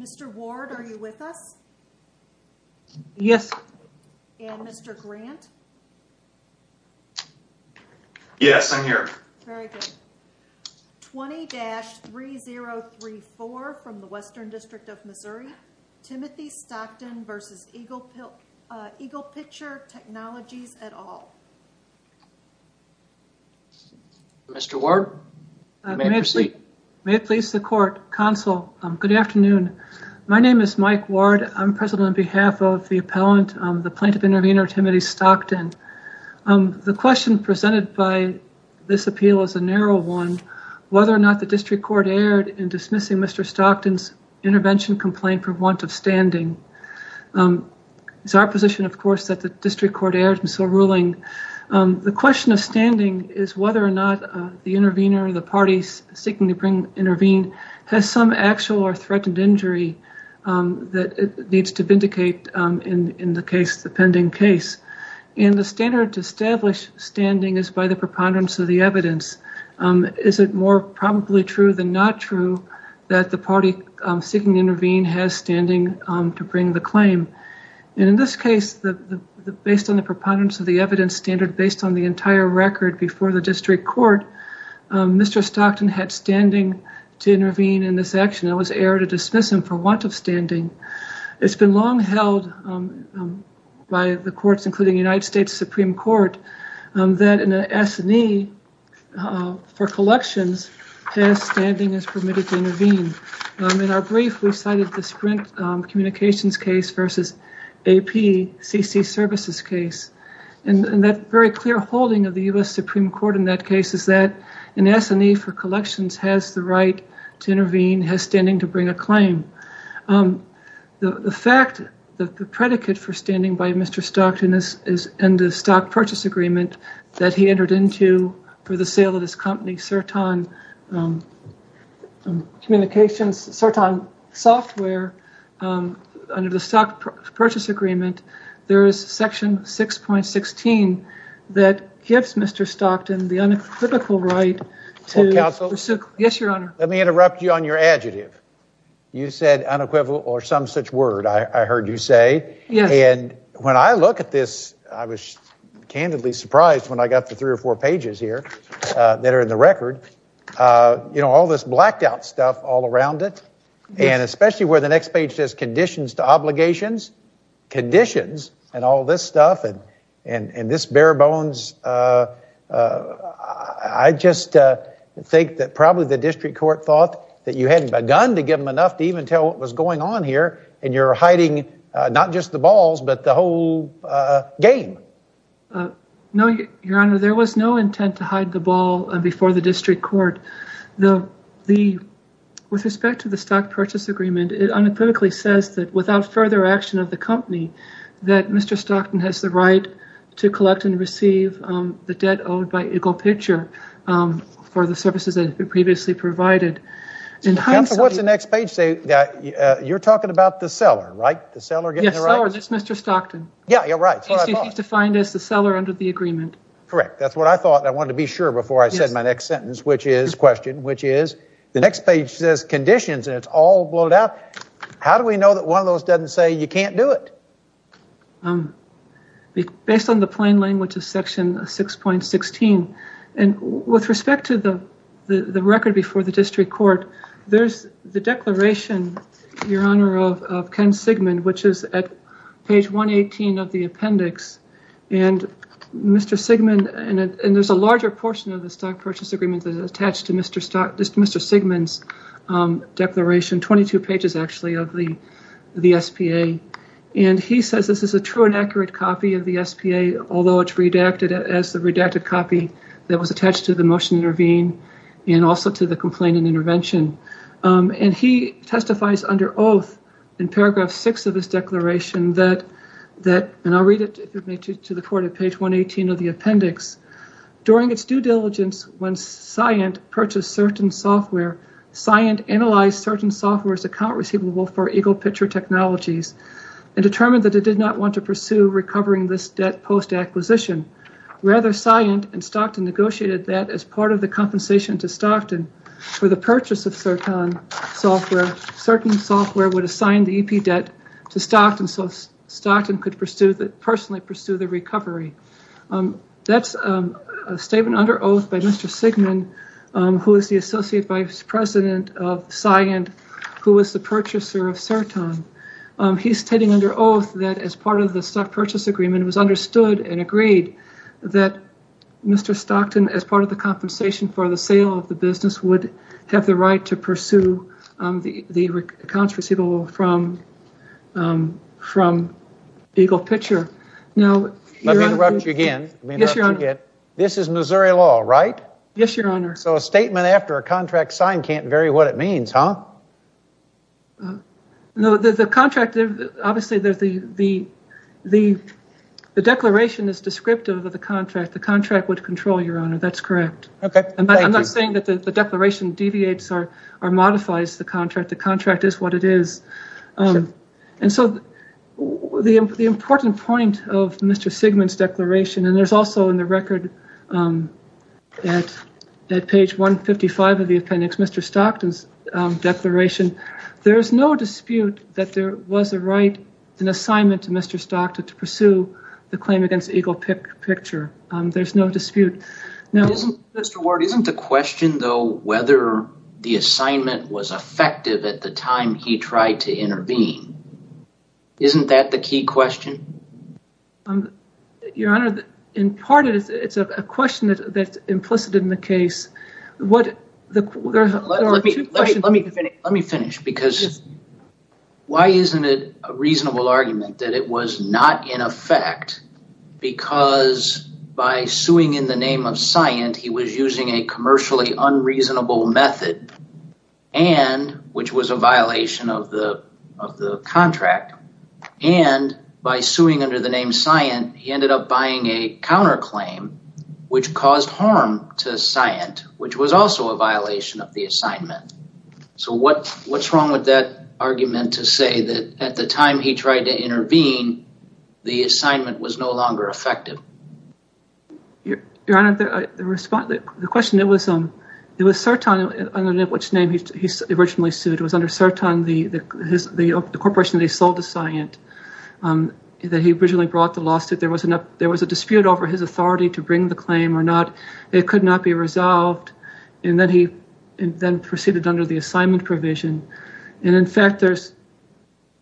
Mr. Ward, are you with us? Yes. And Mr. Grant? Yes, I'm here. Very good. 20-3034 from the Western District of Missouri, Timothy Stockton v. EaglePicher Technologies, et al. Mr. Ward, you may proceed. May it please the court. Counsel, good afternoon. My name is Mike Ward. I'm present on behalf of the appellant, the plaintiff intervener, Timothy Stockton. The question presented by this appeal is a narrow one, whether or not the district court erred in dismissing Mr. Stockton's intervention complaint for want of standing. It's our position, of course, that the district court erred in so ruling. The question of standing is whether or not the intervener, the parties seeking to intervene, has some actual or threatened injury that needs to vindicate in the case, the pending case. And the standard to establish standing is by the preponderance of the evidence. Is it more probably true than not true that the party seeking to intervene has standing to bring the claim? And in this case, based on the preponderance of the evidence standard, based on the entire record before the district court, Mr. Stockton had standing to intervene in this action. It was error to dismiss him for want of standing. It's been long held by the courts, including the United States Supreme Court, that an S&E for collections has standing as permitted to intervene. In our brief, we cited the sprint communications case versus APCC services case. And that very clear holding of the U.S. Supreme Court in that case is that an S&E for collections has the right to intervene, has standing to bring a claim. The fact that the predicate for standing by Mr. Stockton is in the stock purchase agreement that he entered into for the sale of his company, Sertan Communications, Sertan Software, under the stock purchase agreement, there is section 6.16 that gives Mr. Stockton the uncritical right to pursue... You said unequivocal or some such word, I heard you say. And when I look at this, I was candidly surprised when I got the three or four pages here that are in the record. You know, all this blacked out stuff all around it. And especially where the next page says conditions to obligations. Conditions and all this stuff and this bare bones. I just think that probably the district court thought that you hadn't begun to give them enough to even tell what was going on here. And you're hiding not just the balls, but the whole game. No, Your Honor, there was no intent to hide the ball before the district court. With respect to the stock purchase agreement, it unequivocally says that without further action of the company, that Mr. Stockton has the right to collect and receive the debt owed by Eagle Picture for the services that have been previously provided. Counsel, what's the next page say? You're talking about the seller, right? The seller getting the rights? Yes, the seller. That's Mr. Stockton. Yeah, you're right. That's what I thought. He's defined as the seller under the agreement. Correct. That's what I thought and I wanted to be sure before I said my next sentence, which is, question, which is, the next page says conditions and it's all blown out. How do we know that one of those doesn't say you can't do it? Based on the plain language of Section 6.16. And with respect to the record before the district court, there's the declaration, Your Honor, of Ken Sigmund, which is at page 118 of the appendix. And Mr. Sigmund, and there's a larger portion of the stock purchase agreement that is attached to Mr. Sigmund's declaration, 22 pages actually of the SPA. And he says this is a true and accurate copy of the SPA, although it's redacted as the redacted copy that was attached to the motion to intervene and also to the complaint and intervention. And he testifies under oath in paragraph six of this declaration that, and I'll read it to the court at page 118 of the appendix. During its due diligence when Scient purchased certain software, Scient analyzed certain software's account receivable for Eagle Pitcher Technologies and determined that it did not want to pursue recovering this debt post-acquisition. Rather, Scient and Stockton negotiated that as part of the compensation to Stockton for the purchase of Certan software, certain software would assign the EP debt to Stockton so Stockton could personally pursue the recovery. That's a statement under oath by Mr. Sigmund, who is the associate vice president of Scient, who was the purchaser of Certan. He's stating under oath that as part of the stock purchase agreement, it was understood and agreed that Mr. Stockton, as part of the compensation for the sale of the business, would have the right to pursue the accounts receivable from Eagle Pitcher. Let me interrupt you again. This is Missouri law, right? Yes, your honor. So a statement after a contract sign can't vary what it means, huh? No, the contract, obviously the declaration is descriptive of the contract. The contract would control, your honor, that's correct. Okay, thank you. I'm not saying that the declaration deviates or modifies the contract. The contract is what it is. And so the important point of Mr. Sigmund's declaration, and there's also in the record at page 155 of the appendix, Mr. Stockton's declaration, there's no dispute that there was a right, an assignment to Mr. Stockton to pursue the claim against Eagle Pitcher. There's no dispute. Mr. Ward, isn't the question, though, whether the assignment was effective at the time he tried to intervene, isn't that the key question? Your honor, in part, it's a question that's implicit in the case. Let me finish, because why isn't it a reasonable argument that it was not in effect because by suing in the name of Scient, he was using a commercially unreasonable method, which was a violation of the contract. And by suing under the name Scient, he ended up buying a counterclaim, which caused harm to Scient, which was also a violation of the assignment. So what's wrong with that argument to say that at the time he tried to intervene, the assignment was no longer effective? Your honor, the question, it was Serton, under which name he was originally sued. It was under Serton, the corporation that he sold to Scient, that he originally brought the lawsuit. There was a dispute over his authority to bring the claim or not. It could not be resolved. And then he then proceeded under the assignment provision. And in fact,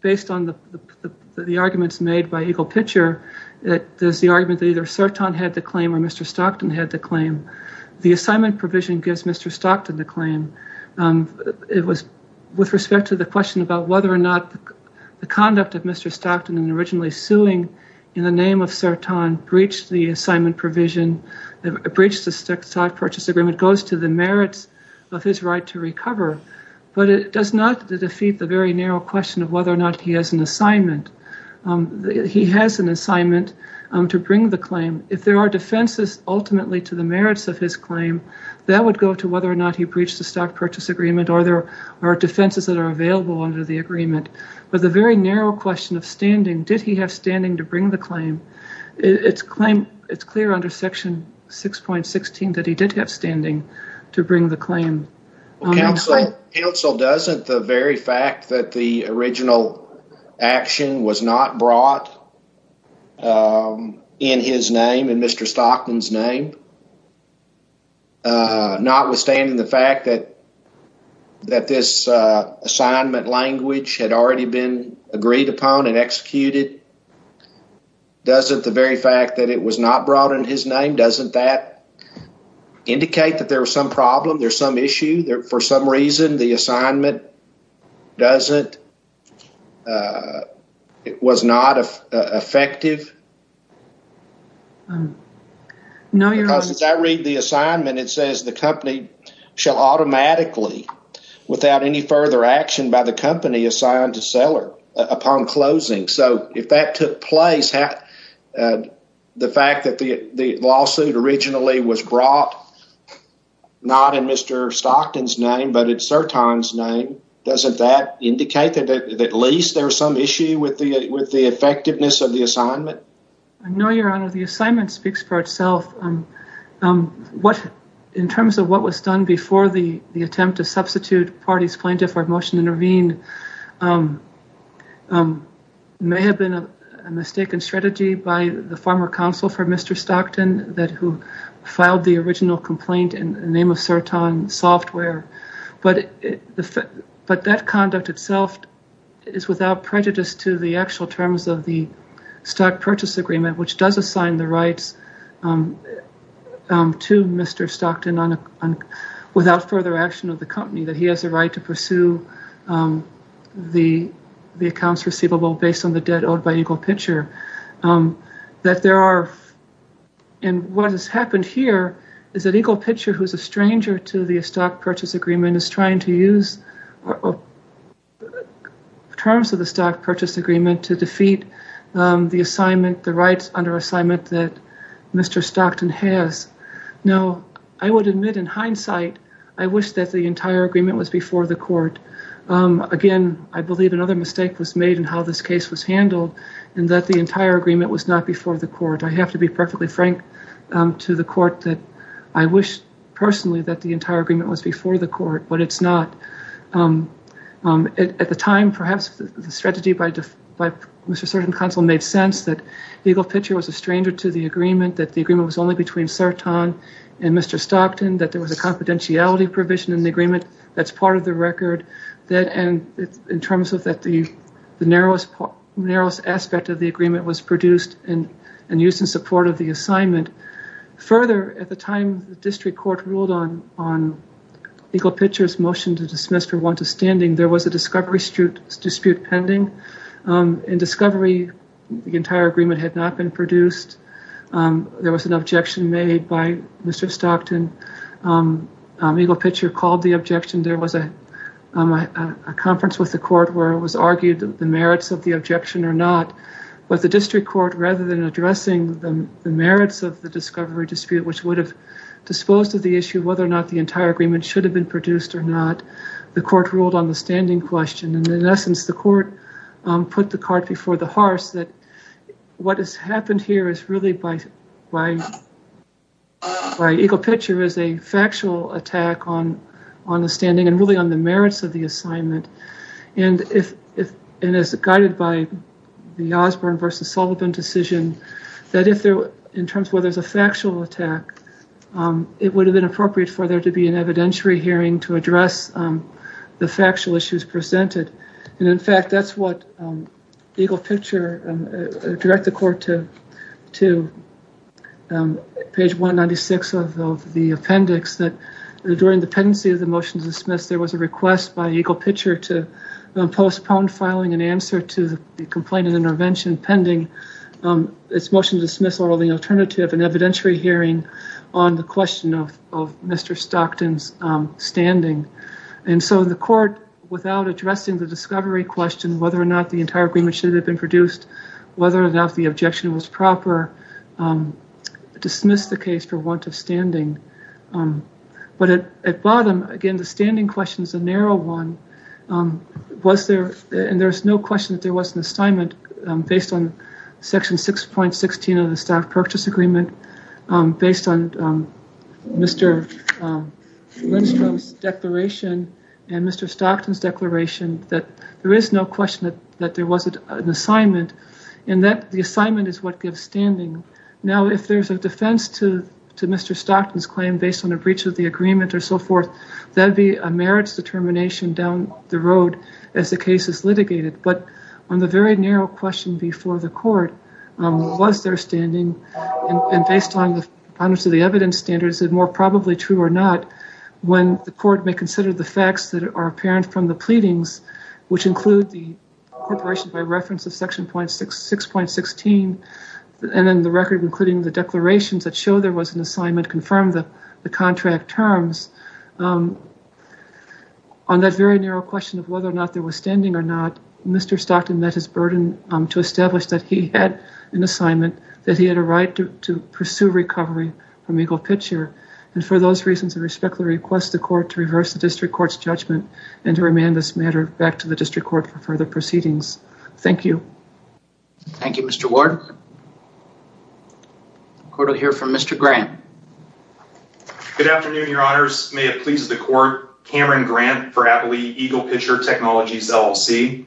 based on the arguments made by Eagle Pitcher, there's the argument that either Serton had the claim or Mr. Stockton had the claim. The assignment provision gives Mr. Stockton the claim. It was with respect to the question about whether or not the conduct of Mr. Stockton in originally suing in the name of Serton breached the assignment provision, breached the stock purchase agreement, goes to the merits of his right to recover. But it does not defeat the very narrow question of whether or not he has an assignment. He has an assignment to bring the claim. If there are defenses ultimately to the merits of his claim, that would go to whether or not he breached the stock purchase agreement or there are defenses that are available under the agreement. But the very narrow question of standing, did he have standing to bring the claim, it's clear under Section 6.16 that he did have standing to bring the claim. Counsel, doesn't the very fact that the original action was not brought in his name and Mr. Stockton's name, notwithstanding the fact that this assignment language had already been agreed upon and executed, doesn't the very fact that it was not brought in his name, doesn't that indicate that there was some problem, there's some issue, that for some reason the assignment was not effective? Because as I read the assignment, it says the company shall automatically, without any further action by the company assigned to seller upon closing. So if that took place, the fact that the lawsuit originally was brought not in Mr. Stockton's name but in Serton's name, doesn't that indicate that at least there's some issue with the effectiveness of the assignment? No, Your Honor, the assignment speaks for itself. In terms of what was done before the attempt to substitute parties plaintiff or motion to intervene may have been a mistaken strategy by the former counsel for Mr. Stockton who filed the original complaint in the name of Serton Software. But that conduct itself is without prejudice to the actual terms of the Stock Purchase Agreement which does assign the rights to Mr. Stockton without further action of the company, that he has the right to pursue the accounts receivable based on the debt owed by Eagle Pitcher. What has happened here is that Eagle Pitcher who is a stranger to the Stock Purchase Agreement is trying to use terms of the Stock Purchase Agreement to defeat the assignment, the rights under assignment that Mr. Stockton has. Now, I would admit in hindsight, I wish that the entire agreement was before the court. Again, I believe another mistake was made in how this case was handled and that the entire agreement was not before the court. I have to be perfectly frank to the court that I wish personally that the entire agreement was before the court but it's not. At the time, perhaps the strategy by Mr. Serton Counsel made sense that Eagle Pitcher was a stranger to the agreement, that the agreement was only between Serton and Mr. Stockton, that there was a confidentiality provision in the agreement that's part of the record and in terms of the narrowest aspect of the agreement was produced and used in support of the assignment. Further, at the time the district court ruled on Eagle Pitcher's motion to dismiss for want of standing, there was a discovery dispute pending. In discovery, the entire agreement had not been produced. There was an objection made by Mr. Stockton. Eagle Pitcher called the objection. There was a conference with the court where it was argued the merits of the objection or not, but the district court rather than addressing the merits of the discovery dispute which would have disposed of the issue whether or not the entire agreement should have been produced or not, the court ruled on the standing question. In essence, the court put the cart before the horse that what has happened here is really by Eagle Pitcher is a factual attack on the standing and really on the merits of the assignment and as guided by the Osborne versus Sullivan decision that in terms where there's a factual attack, it would have been appropriate for there to be an evidentiary hearing to address the factual issues presented. In fact, that's what Eagle Pitcher directed the court to page 196 of the appendix that during the pendency of the motion to dismiss, there was a request by Eagle Pitcher to postpone filing an answer to the complaint and intervention pending its motion to dismiss or the alternative and evidentiary hearing on the question of Mr. Stockton's standing. And so the court without addressing the discovery question whether or not the entire agreement should have been produced, whether or not the objection was proper, dismissed the case for want of standing. Based on Mr. Lindstrom's declaration and Mr. Stockton's declaration that there is no question that there wasn't an assignment and that the assignment is what gives standing. Now, if there's a defense to Mr. Stockton's claim based on a breach of the agreement or so forth, that would be a merits determination down the road as the case is litigated. But on the very narrow question before the court, was there standing and based on the evidence standards, more probably true or not, when the court may consider the facts that are apparent from the pleadings, which include the corporation by reference of section 6.16, and then the record including the declarations that show there was an assignment, confirm the contract terms. On that very narrow question of whether or not there was standing or not, Mr. Stockton met his burden to establish that he had an assignment, that he had a right to pursue recovery from Eagle Pitcher. And for those reasons, I respectfully request the court to reverse the district court's judgment and to remand this matter back to the district court for further proceedings. Thank you. Thank you, Mr. Ward. The court will hear from Mr. Grant. Good afternoon, Your Honors. May it please the court. Cameron Grant for Appley Eagle Pitcher Technologies LLC.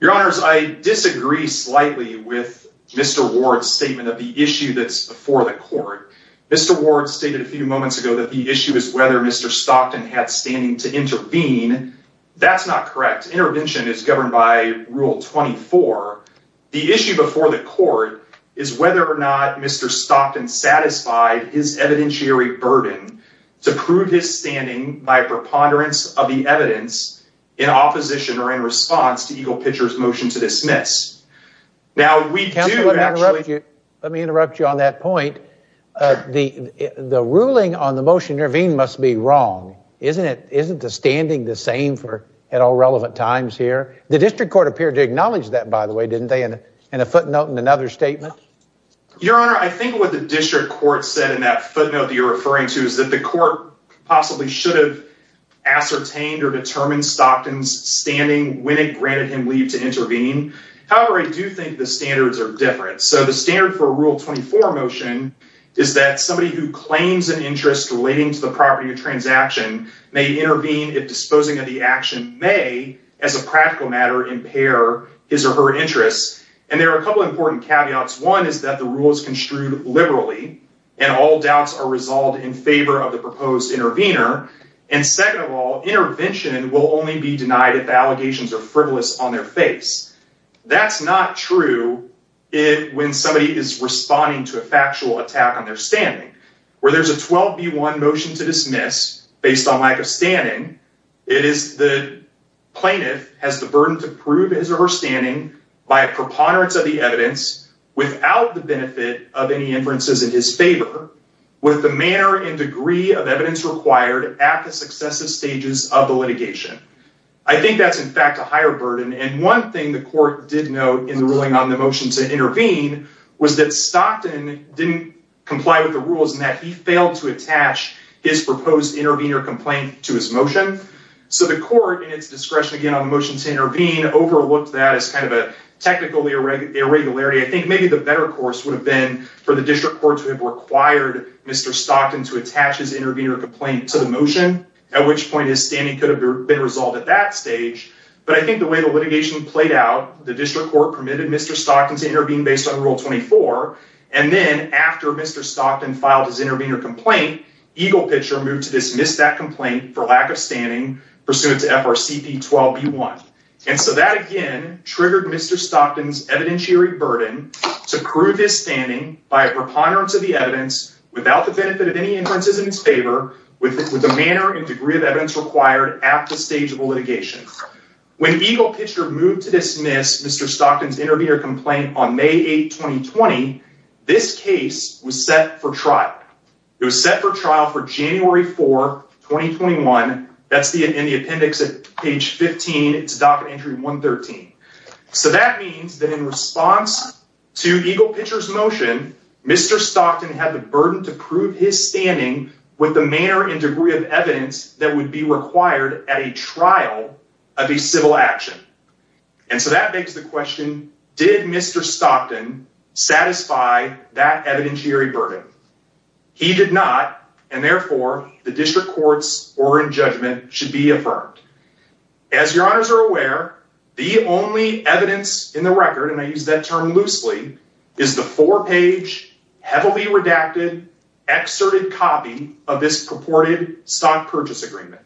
Your Honors, I disagree slightly with Mr. Ward's statement of the issue that's before the court. Mr. Ward stated a few moments ago that the issue is whether Mr. Stockton had standing to intervene. That's not correct. Intervention is governed by Rule 24. The issue before the court is whether or not Mr. Stockton satisfied his evidentiary burden to prove his standing by preponderance of the evidence in opposition or in response to Eagle Pitcher's motion to dismiss. Now, we do actually— Counsel, let me interrupt you on that point. The ruling on the motion to intervene must be wrong. Isn't the standing the same at all relevant times here? The district court appeared to acknowledge that, by the way, didn't they, in a footnote in another statement? Your Honor, I think what the district court said in that footnote that you're referring to is that the court possibly should have ascertained or determined Stockton's standing when it granted him leave to intervene. However, I do think the standards are different. So the standard for Rule 24 motion is that somebody who claims an interest relating to the property of transaction may intervene if disposing of the action may, as a practical matter, impair his or her interests. And there are a couple important caveats. One is that the rule is construed liberally, and all doubts are resolved in favor of the proposed intervener. And second of all, intervention will only be denied if the allegations are frivolous on their face. That's not true when somebody is responding to a factual attack on their standing. Where there's a 12B1 motion to dismiss based on lack of standing, it is the plaintiff has the burden to prove his or her standing by a preponderance of the evidence without the benefit of any inferences in his favor with the manner and degree of evidence required at the successive stages of the litigation. I think that's, in fact, a higher burden. And one thing the court did note in the ruling on the motion to intervene was that Stockton didn't comply with the rules and that he failed to attach his proposed intervener complaint to his motion. So the court, in its discretion, again, on the motion to intervene, overlooked that as kind of a technical irregularity. I think maybe the better course would have been for the district court to have required Mr. Stockton to attach his intervener complaint to the motion, at which point his standing could have been resolved at that stage. But I think the way the litigation played out, the district court permitted Mr. Stockton to intervene based on Rule 24. And then after Mr. Stockton filed his intervener complaint, Eagle Pitcher moved to dismiss that complaint for lack of standing pursuant to FRCP 12B1. And so that, again, triggered Mr. Stockton's evidentiary burden to prove his standing by a preponderance of the evidence without the benefit of any inferences in his favor with the manner and degree of evidence required at the stage of the litigation. When Eagle Pitcher moved to dismiss Mr. Stockton's intervener complaint on May 8, 2020, this case was set for trial. It was set for trial for January 4, 2021. That's in the appendix at page 15. It's docket entry 113. So that means that in response to Eagle Pitcher's motion, Mr. Stockton had the burden to prove his standing with the manner and degree of evidence that would be required at a trial of a civil action. And so that begs the question, did Mr. Stockton satisfy that evidentiary burden? He did not, and therefore, the district court's oral judgment should be affirmed. As your honors are aware, the only evidence in the record, and I use that term loosely, is the four-page, heavily redacted, excerpted copy of this purported stock purchase agreement.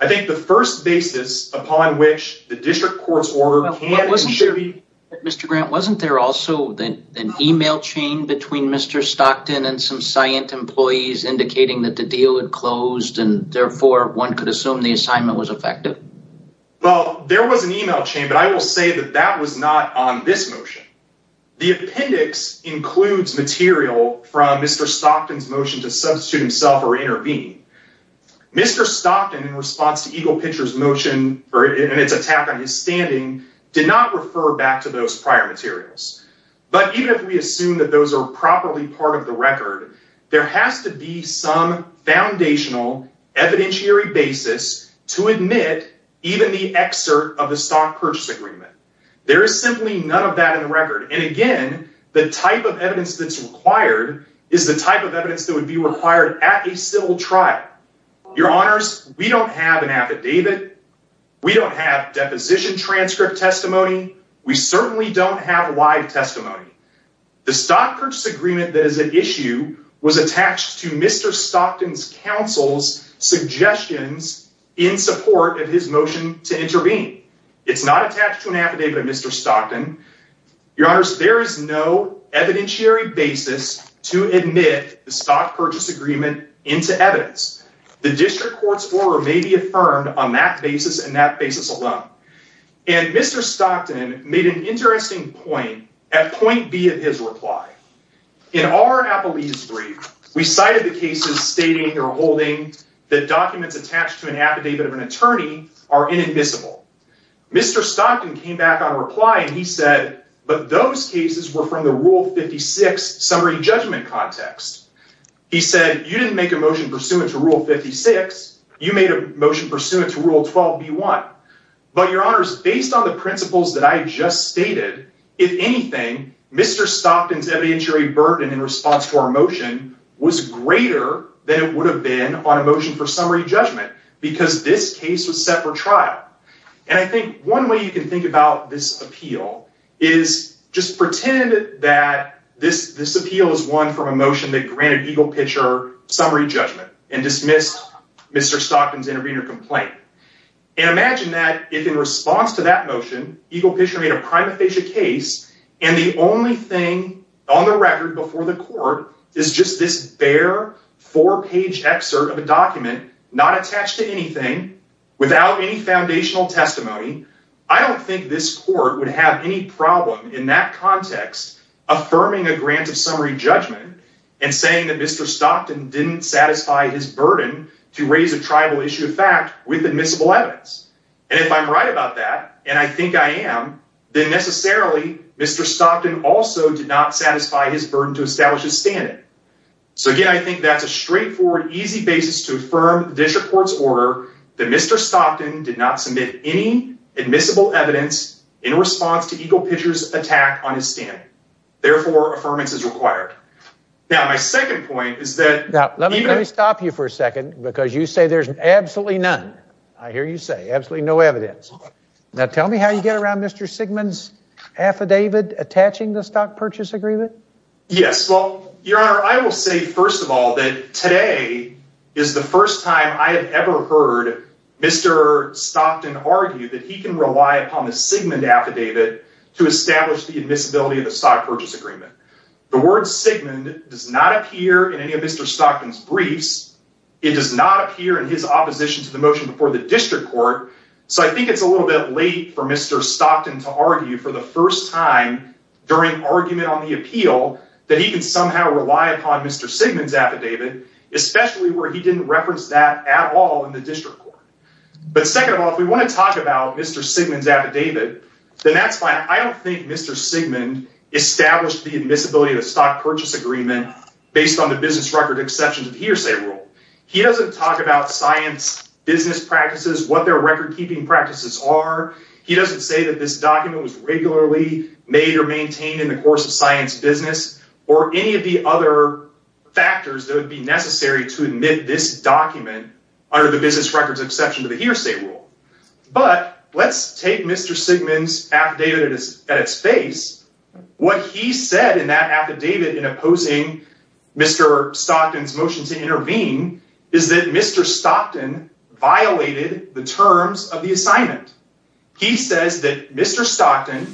I think the first basis upon which the district court's order can and should be— But wasn't there—Mr. Grant, wasn't there also an email chain between Mr. Stockton and some scient employees indicating that the deal had closed and therefore one could assume the assignment was effective? Well, there was an email chain, but I will say that that was not on this motion. The appendix includes material from Mr. Stockton's motion to substitute himself or intervene. Mr. Stockton, in response to Eagle Pitcher's motion and its attack on his standing, did not refer back to those prior materials. But even if we assume that those are properly part of the record, there has to be some foundational evidentiary basis to admit even the excerpt of the stock purchase agreement. There is simply none of that in the record. And again, the type of evidence that's required is the type of evidence that would be required at a civil trial. Your honors, we don't have an affidavit. We don't have deposition transcript testimony. We certainly don't have live testimony. The stock purchase agreement that is at issue was attached to Mr. Stockton's counsel's suggestions in support of his motion to intervene. It's not attached to an affidavit of Mr. Stockton. Your honors, there is no evidentiary basis to admit the stock purchase agreement into evidence. The district court's order may be affirmed on that basis and that basis alone. And Mr. Stockton made an interesting point at point B of his reply. In our appellee's brief, we cited the cases stating or holding that documents attached to an affidavit of an attorney are inadmissible. Mr. Stockton came back on a reply and he said, but those cases were from the Rule 56 summary judgment context. He said, you didn't make a motion pursuant to Rule 56. You made a motion pursuant to Rule 12B1. But your honors, based on the principles that I just stated, if anything, Mr. Stockton's evidentiary burden in response to our motion was greater than it would have been on a motion for summary judgment because this case was set for trial. And I think one way you can think about this appeal is just pretend that this appeal is one from a motion that granted Eagle Pitcher summary judgment and dismissed Mr. Stockton's intervener complaint. And imagine that if in response to that motion, Eagle Pitcher made a prima facie case and the only thing on the record before the court is just this bare four page excerpt of a document not attached to anything without any foundational testimony. I don't think this court would have any problem in that context affirming a grant of summary judgment and saying that Mr. Stockton didn't satisfy his burden to raise a tribal issue of fact with admissible evidence. And if I'm right about that, and I think I am, then necessarily Mr. Stockton also did not satisfy his burden to establish his standing. So, again, I think that's a straightforward, easy basis to affirm this report's order that Mr. Stockton did not submit any admissible evidence in response to Eagle Pitcher's attack on his standing. Therefore, affirmance is required. Now, my second point is that— Now, let me stop you for a second because you say there's absolutely none. I hear you say absolutely no evidence. Now, tell me how you get around Mr. Sigmund's affidavit attaching the stock purchase agreement? Yes, well, Your Honor, I will say, first of all, that today is the first time I have ever heard Mr. Stockton argue that he can rely upon the Sigmund affidavit to establish the admissibility of the stock purchase agreement. The word Sigmund does not appear in any of Mr. Stockton's briefs. It does not appear in his opposition to the motion before the district court. So I think it's a little bit late for Mr. Stockton to argue for the first time during argument on the appeal that he can somehow rely upon Mr. Sigmund's affidavit, especially where he didn't reference that at all in the district court. But, second of all, if we want to talk about Mr. Sigmund's affidavit, then that's fine. I don't think Mr. Sigmund established the admissibility of the stock purchase agreement based on the business record exceptions of hearsay rule. He doesn't talk about science business practices, what their record keeping practices are. He doesn't say that this document was regularly made or maintained in the course of science business or any of the other factors that would be necessary to admit this document under the business records exception to the hearsay rule. But let's take Mr. Sigmund's affidavit at its face. What he said in that affidavit in opposing Mr. Stockton's motion to intervene is that Mr. Stockton violated the terms of the assignment. He says that Mr. Stockton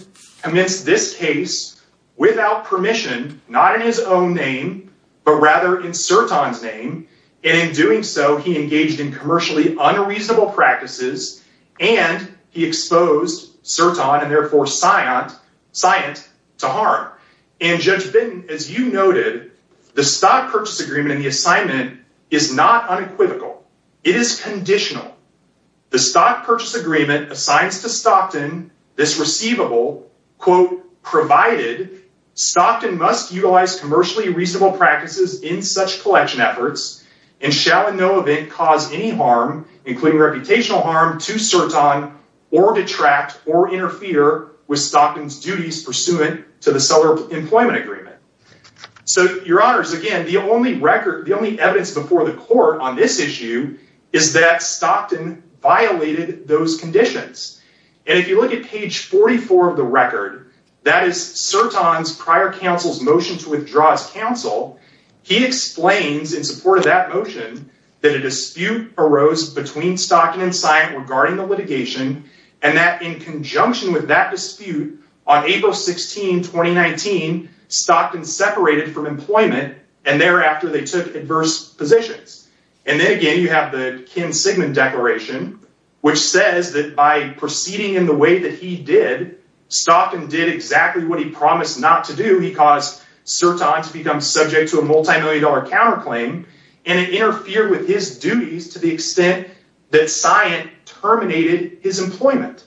commenced this case without permission, not in his own name, but rather in Sirton's name. And in doing so, he engaged in commercially unreasonable practices and he exposed Sirton and therefore Scient to harm. And Judge Bitton, as you noted, the stock purchase agreement in the assignment is not unequivocal. It is conditional. The stock purchase agreement assigns to Stockton this receivable quote provided Stockton must utilize commercially reasonable practices in such collection efforts and shall in no event cause any harm, including reputational harm to Sirton or detract or interfere with Stockton's duties pursuant to the seller employment agreement. So your honors, again, the only record, the only evidence before the court on this issue is that Stockton violated those conditions. And if you look at page 44 of the record, that is Sirton's prior counsel's motion to withdraw his counsel. He explains in support of that motion that a dispute arose between Stockton and Scient regarding the litigation and that in conjunction with that dispute on April 16, 2019, Stockton separated from employment and thereafter they took adverse positions. And then again, you have the Ken Sigmund Declaration, which says that by proceeding in the way that he did, Stockton did exactly what he promised not to do. He caused Sirton to become subject to a multimillion dollar counterclaim and it interfered with his duties to the extent that Scient terminated his employment.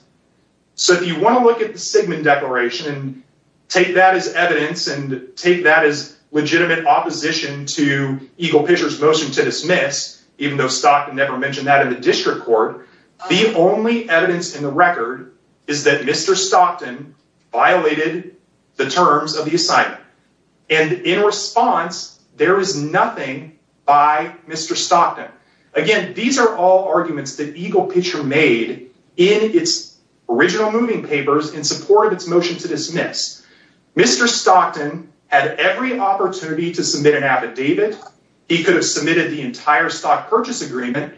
So if you want to look at the Sigmund Declaration and take that as evidence and take that as legitimate opposition to Eagle Pitcher's motion to dismiss, even though Stockton never mentioned that in the district court, the only evidence in the record is that Mr. Stockton violated the terms of the assignment. And in response, there is nothing by Mr. Stockton. Again, these are all arguments that Eagle Pitcher made in its original moving papers in support of its motion to dismiss. Mr. Stockton had every opportunity to submit an affidavit. He could have submitted the entire stock purchase agreement.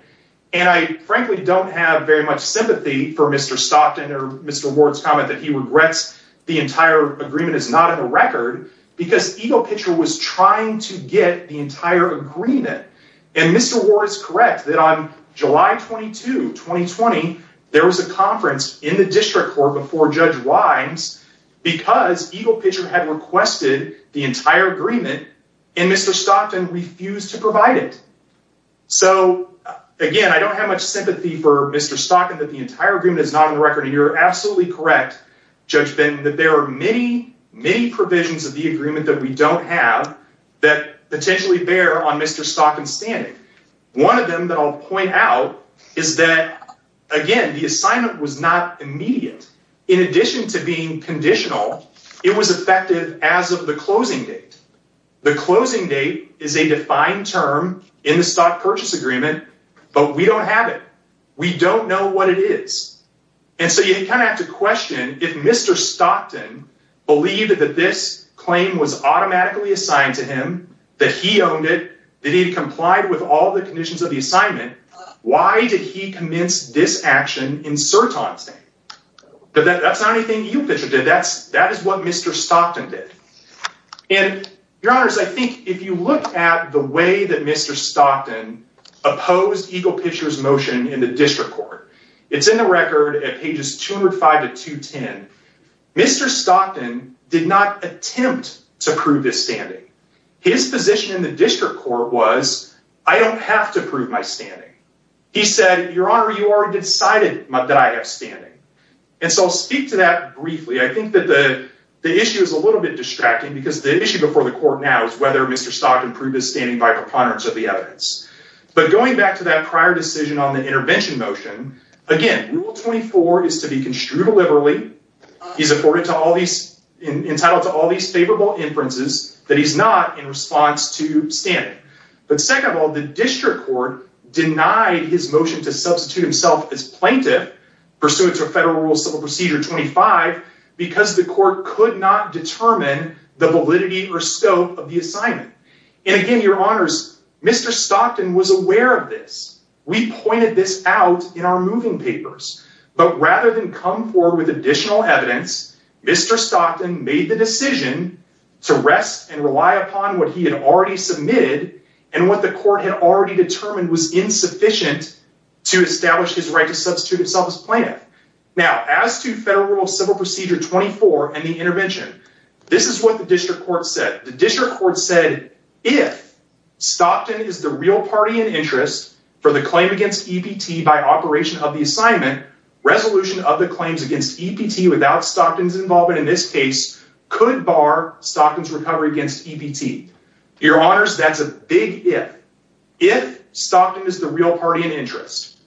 And I frankly don't have very much sympathy for Mr. Stockton or Mr. Ward's comment that he regrets the entire agreement is not in the record because Eagle Pitcher was trying to get the entire agreement. And Mr. Ward is correct that on July 22, 2020, there was a conference in the district court before Judge Wimes because Eagle Pitcher had requested the entire agreement and Mr. Stockton refused to provide it. So, again, I don't have much sympathy for Mr. Stockton that the entire agreement is not on the record. You're absolutely correct, Judge Ben, that there are many, many provisions of the agreement that we don't have that potentially bear on Mr. Stockton's standing. One of them that I'll point out is that, again, the assignment was not immediate. In addition to being conditional, it was effective as of the closing date. The closing date is a defined term in the stock purchase agreement, but we don't have it. We don't know what it is. And so you kind of have to question if Mr. Stockton believed that this claim was automatically assigned to him, that he owned it, that he complied with all the conditions of the assignment, why did he commence this action in Serton's name? That's not anything Eagle Pitcher did. That is what Mr. Stockton did. And, Your Honors, I think if you look at the way that Mr. Stockton opposed Eagle Pitcher's motion in the district court, it's in the record at pages 205 to 210. Mr. Stockton did not attempt to prove his standing. His position in the district court was, I don't have to prove my standing. He said, Your Honor, you already decided that I have standing. And so I'll speak to that briefly. I think that the issue is a little bit distracting because the issue before the court now is whether Mr. Stockton proved his standing by preponderance of the evidence. But going back to that prior decision on the intervention motion, again, Rule 24 is to be construed liberally. He's entitled to all these favorable inferences that he's not in response to standing. But second of all, the district court denied his motion to substitute himself as plaintiff pursuant to Federal Rule Civil Procedure 25 because the court could not determine the validity or scope of the assignment. And again, Your Honors, Mr. Stockton was aware of this. We pointed this out in our moving papers. But rather than come forward with additional evidence, Mr. Stockton made the decision to rest and rely upon what he had already submitted and what the court had already determined was insufficient to establish his right to substitute himself as plaintiff. Now, as to Federal Rule Civil Procedure 24 and the intervention, this is what the district court said. The district court said, if Stockton is the real party in interest for the claim against EPT by operation of the assignment, resolution of the claims against EPT without Stockton's involvement in this case could bar Stockton's recovery against EPT. Your Honors, that's a big if. If Stockton is the real party in interest,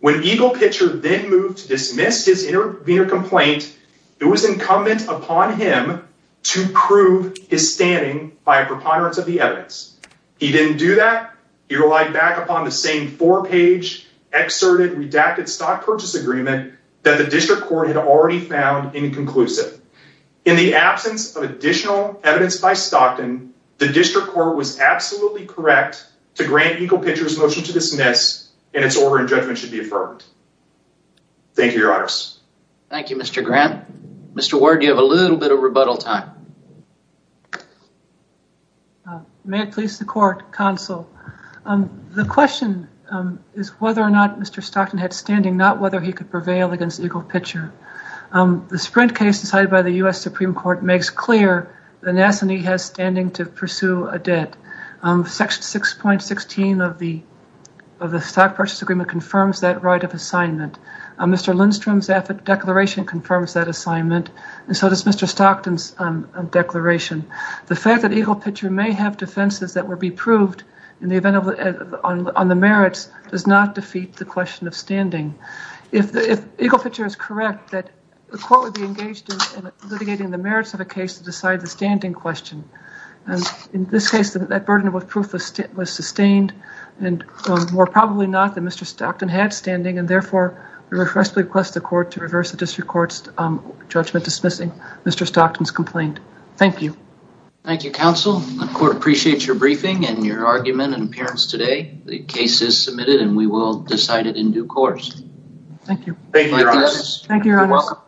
when EGLE Pitcher then moved to dismiss his intervener complaint, it was incumbent upon him to prove his standing by a preponderance of the evidence. He didn't do that. He relied back upon the same four-page, excerpted, redacted stock purchase agreement that the district court had already found inconclusive. In the absence of additional evidence by Stockton, the district court was absolutely correct to grant EGLE Pitcher's motion to dismiss and its order and judgment should be affirmed. Thank you, Your Honors. Thank you, Mr. Grant. Mr. Ward, you have a little bit of rebuttal time. May it please the court, counsel. The question is whether or not Mr. Stockton had standing, not whether he could prevail against EGLE Pitcher. The Sprint case decided by the U.S. Supreme Court makes clear that an assignee has standing to pursue a debt. Section 6.16 of the stock purchase agreement confirms that right of assignment. Mr. Lindstrom's declaration confirms that assignment, and so does Mr. Stockton's declaration. The fact that EGLE Pitcher may have defenses that would be proved on the merits does not defeat the question of standing. If EGLE Pitcher is correct, the court would be engaged in litigating the merits of a case to decide the standing question. In this case, that burden of proof was sustained, and more probably not that Mr. Stockton had standing, and therefore we request the court to reverse the district court's judgment dismissing Mr. Stockton's complaint. Thank you. Thank you, counsel. The court appreciates your briefing and your argument and appearance today. The case is submitted and we will decide it in due course. Thank you. Thank you, your honor. Thank you, your honor. You're welcome.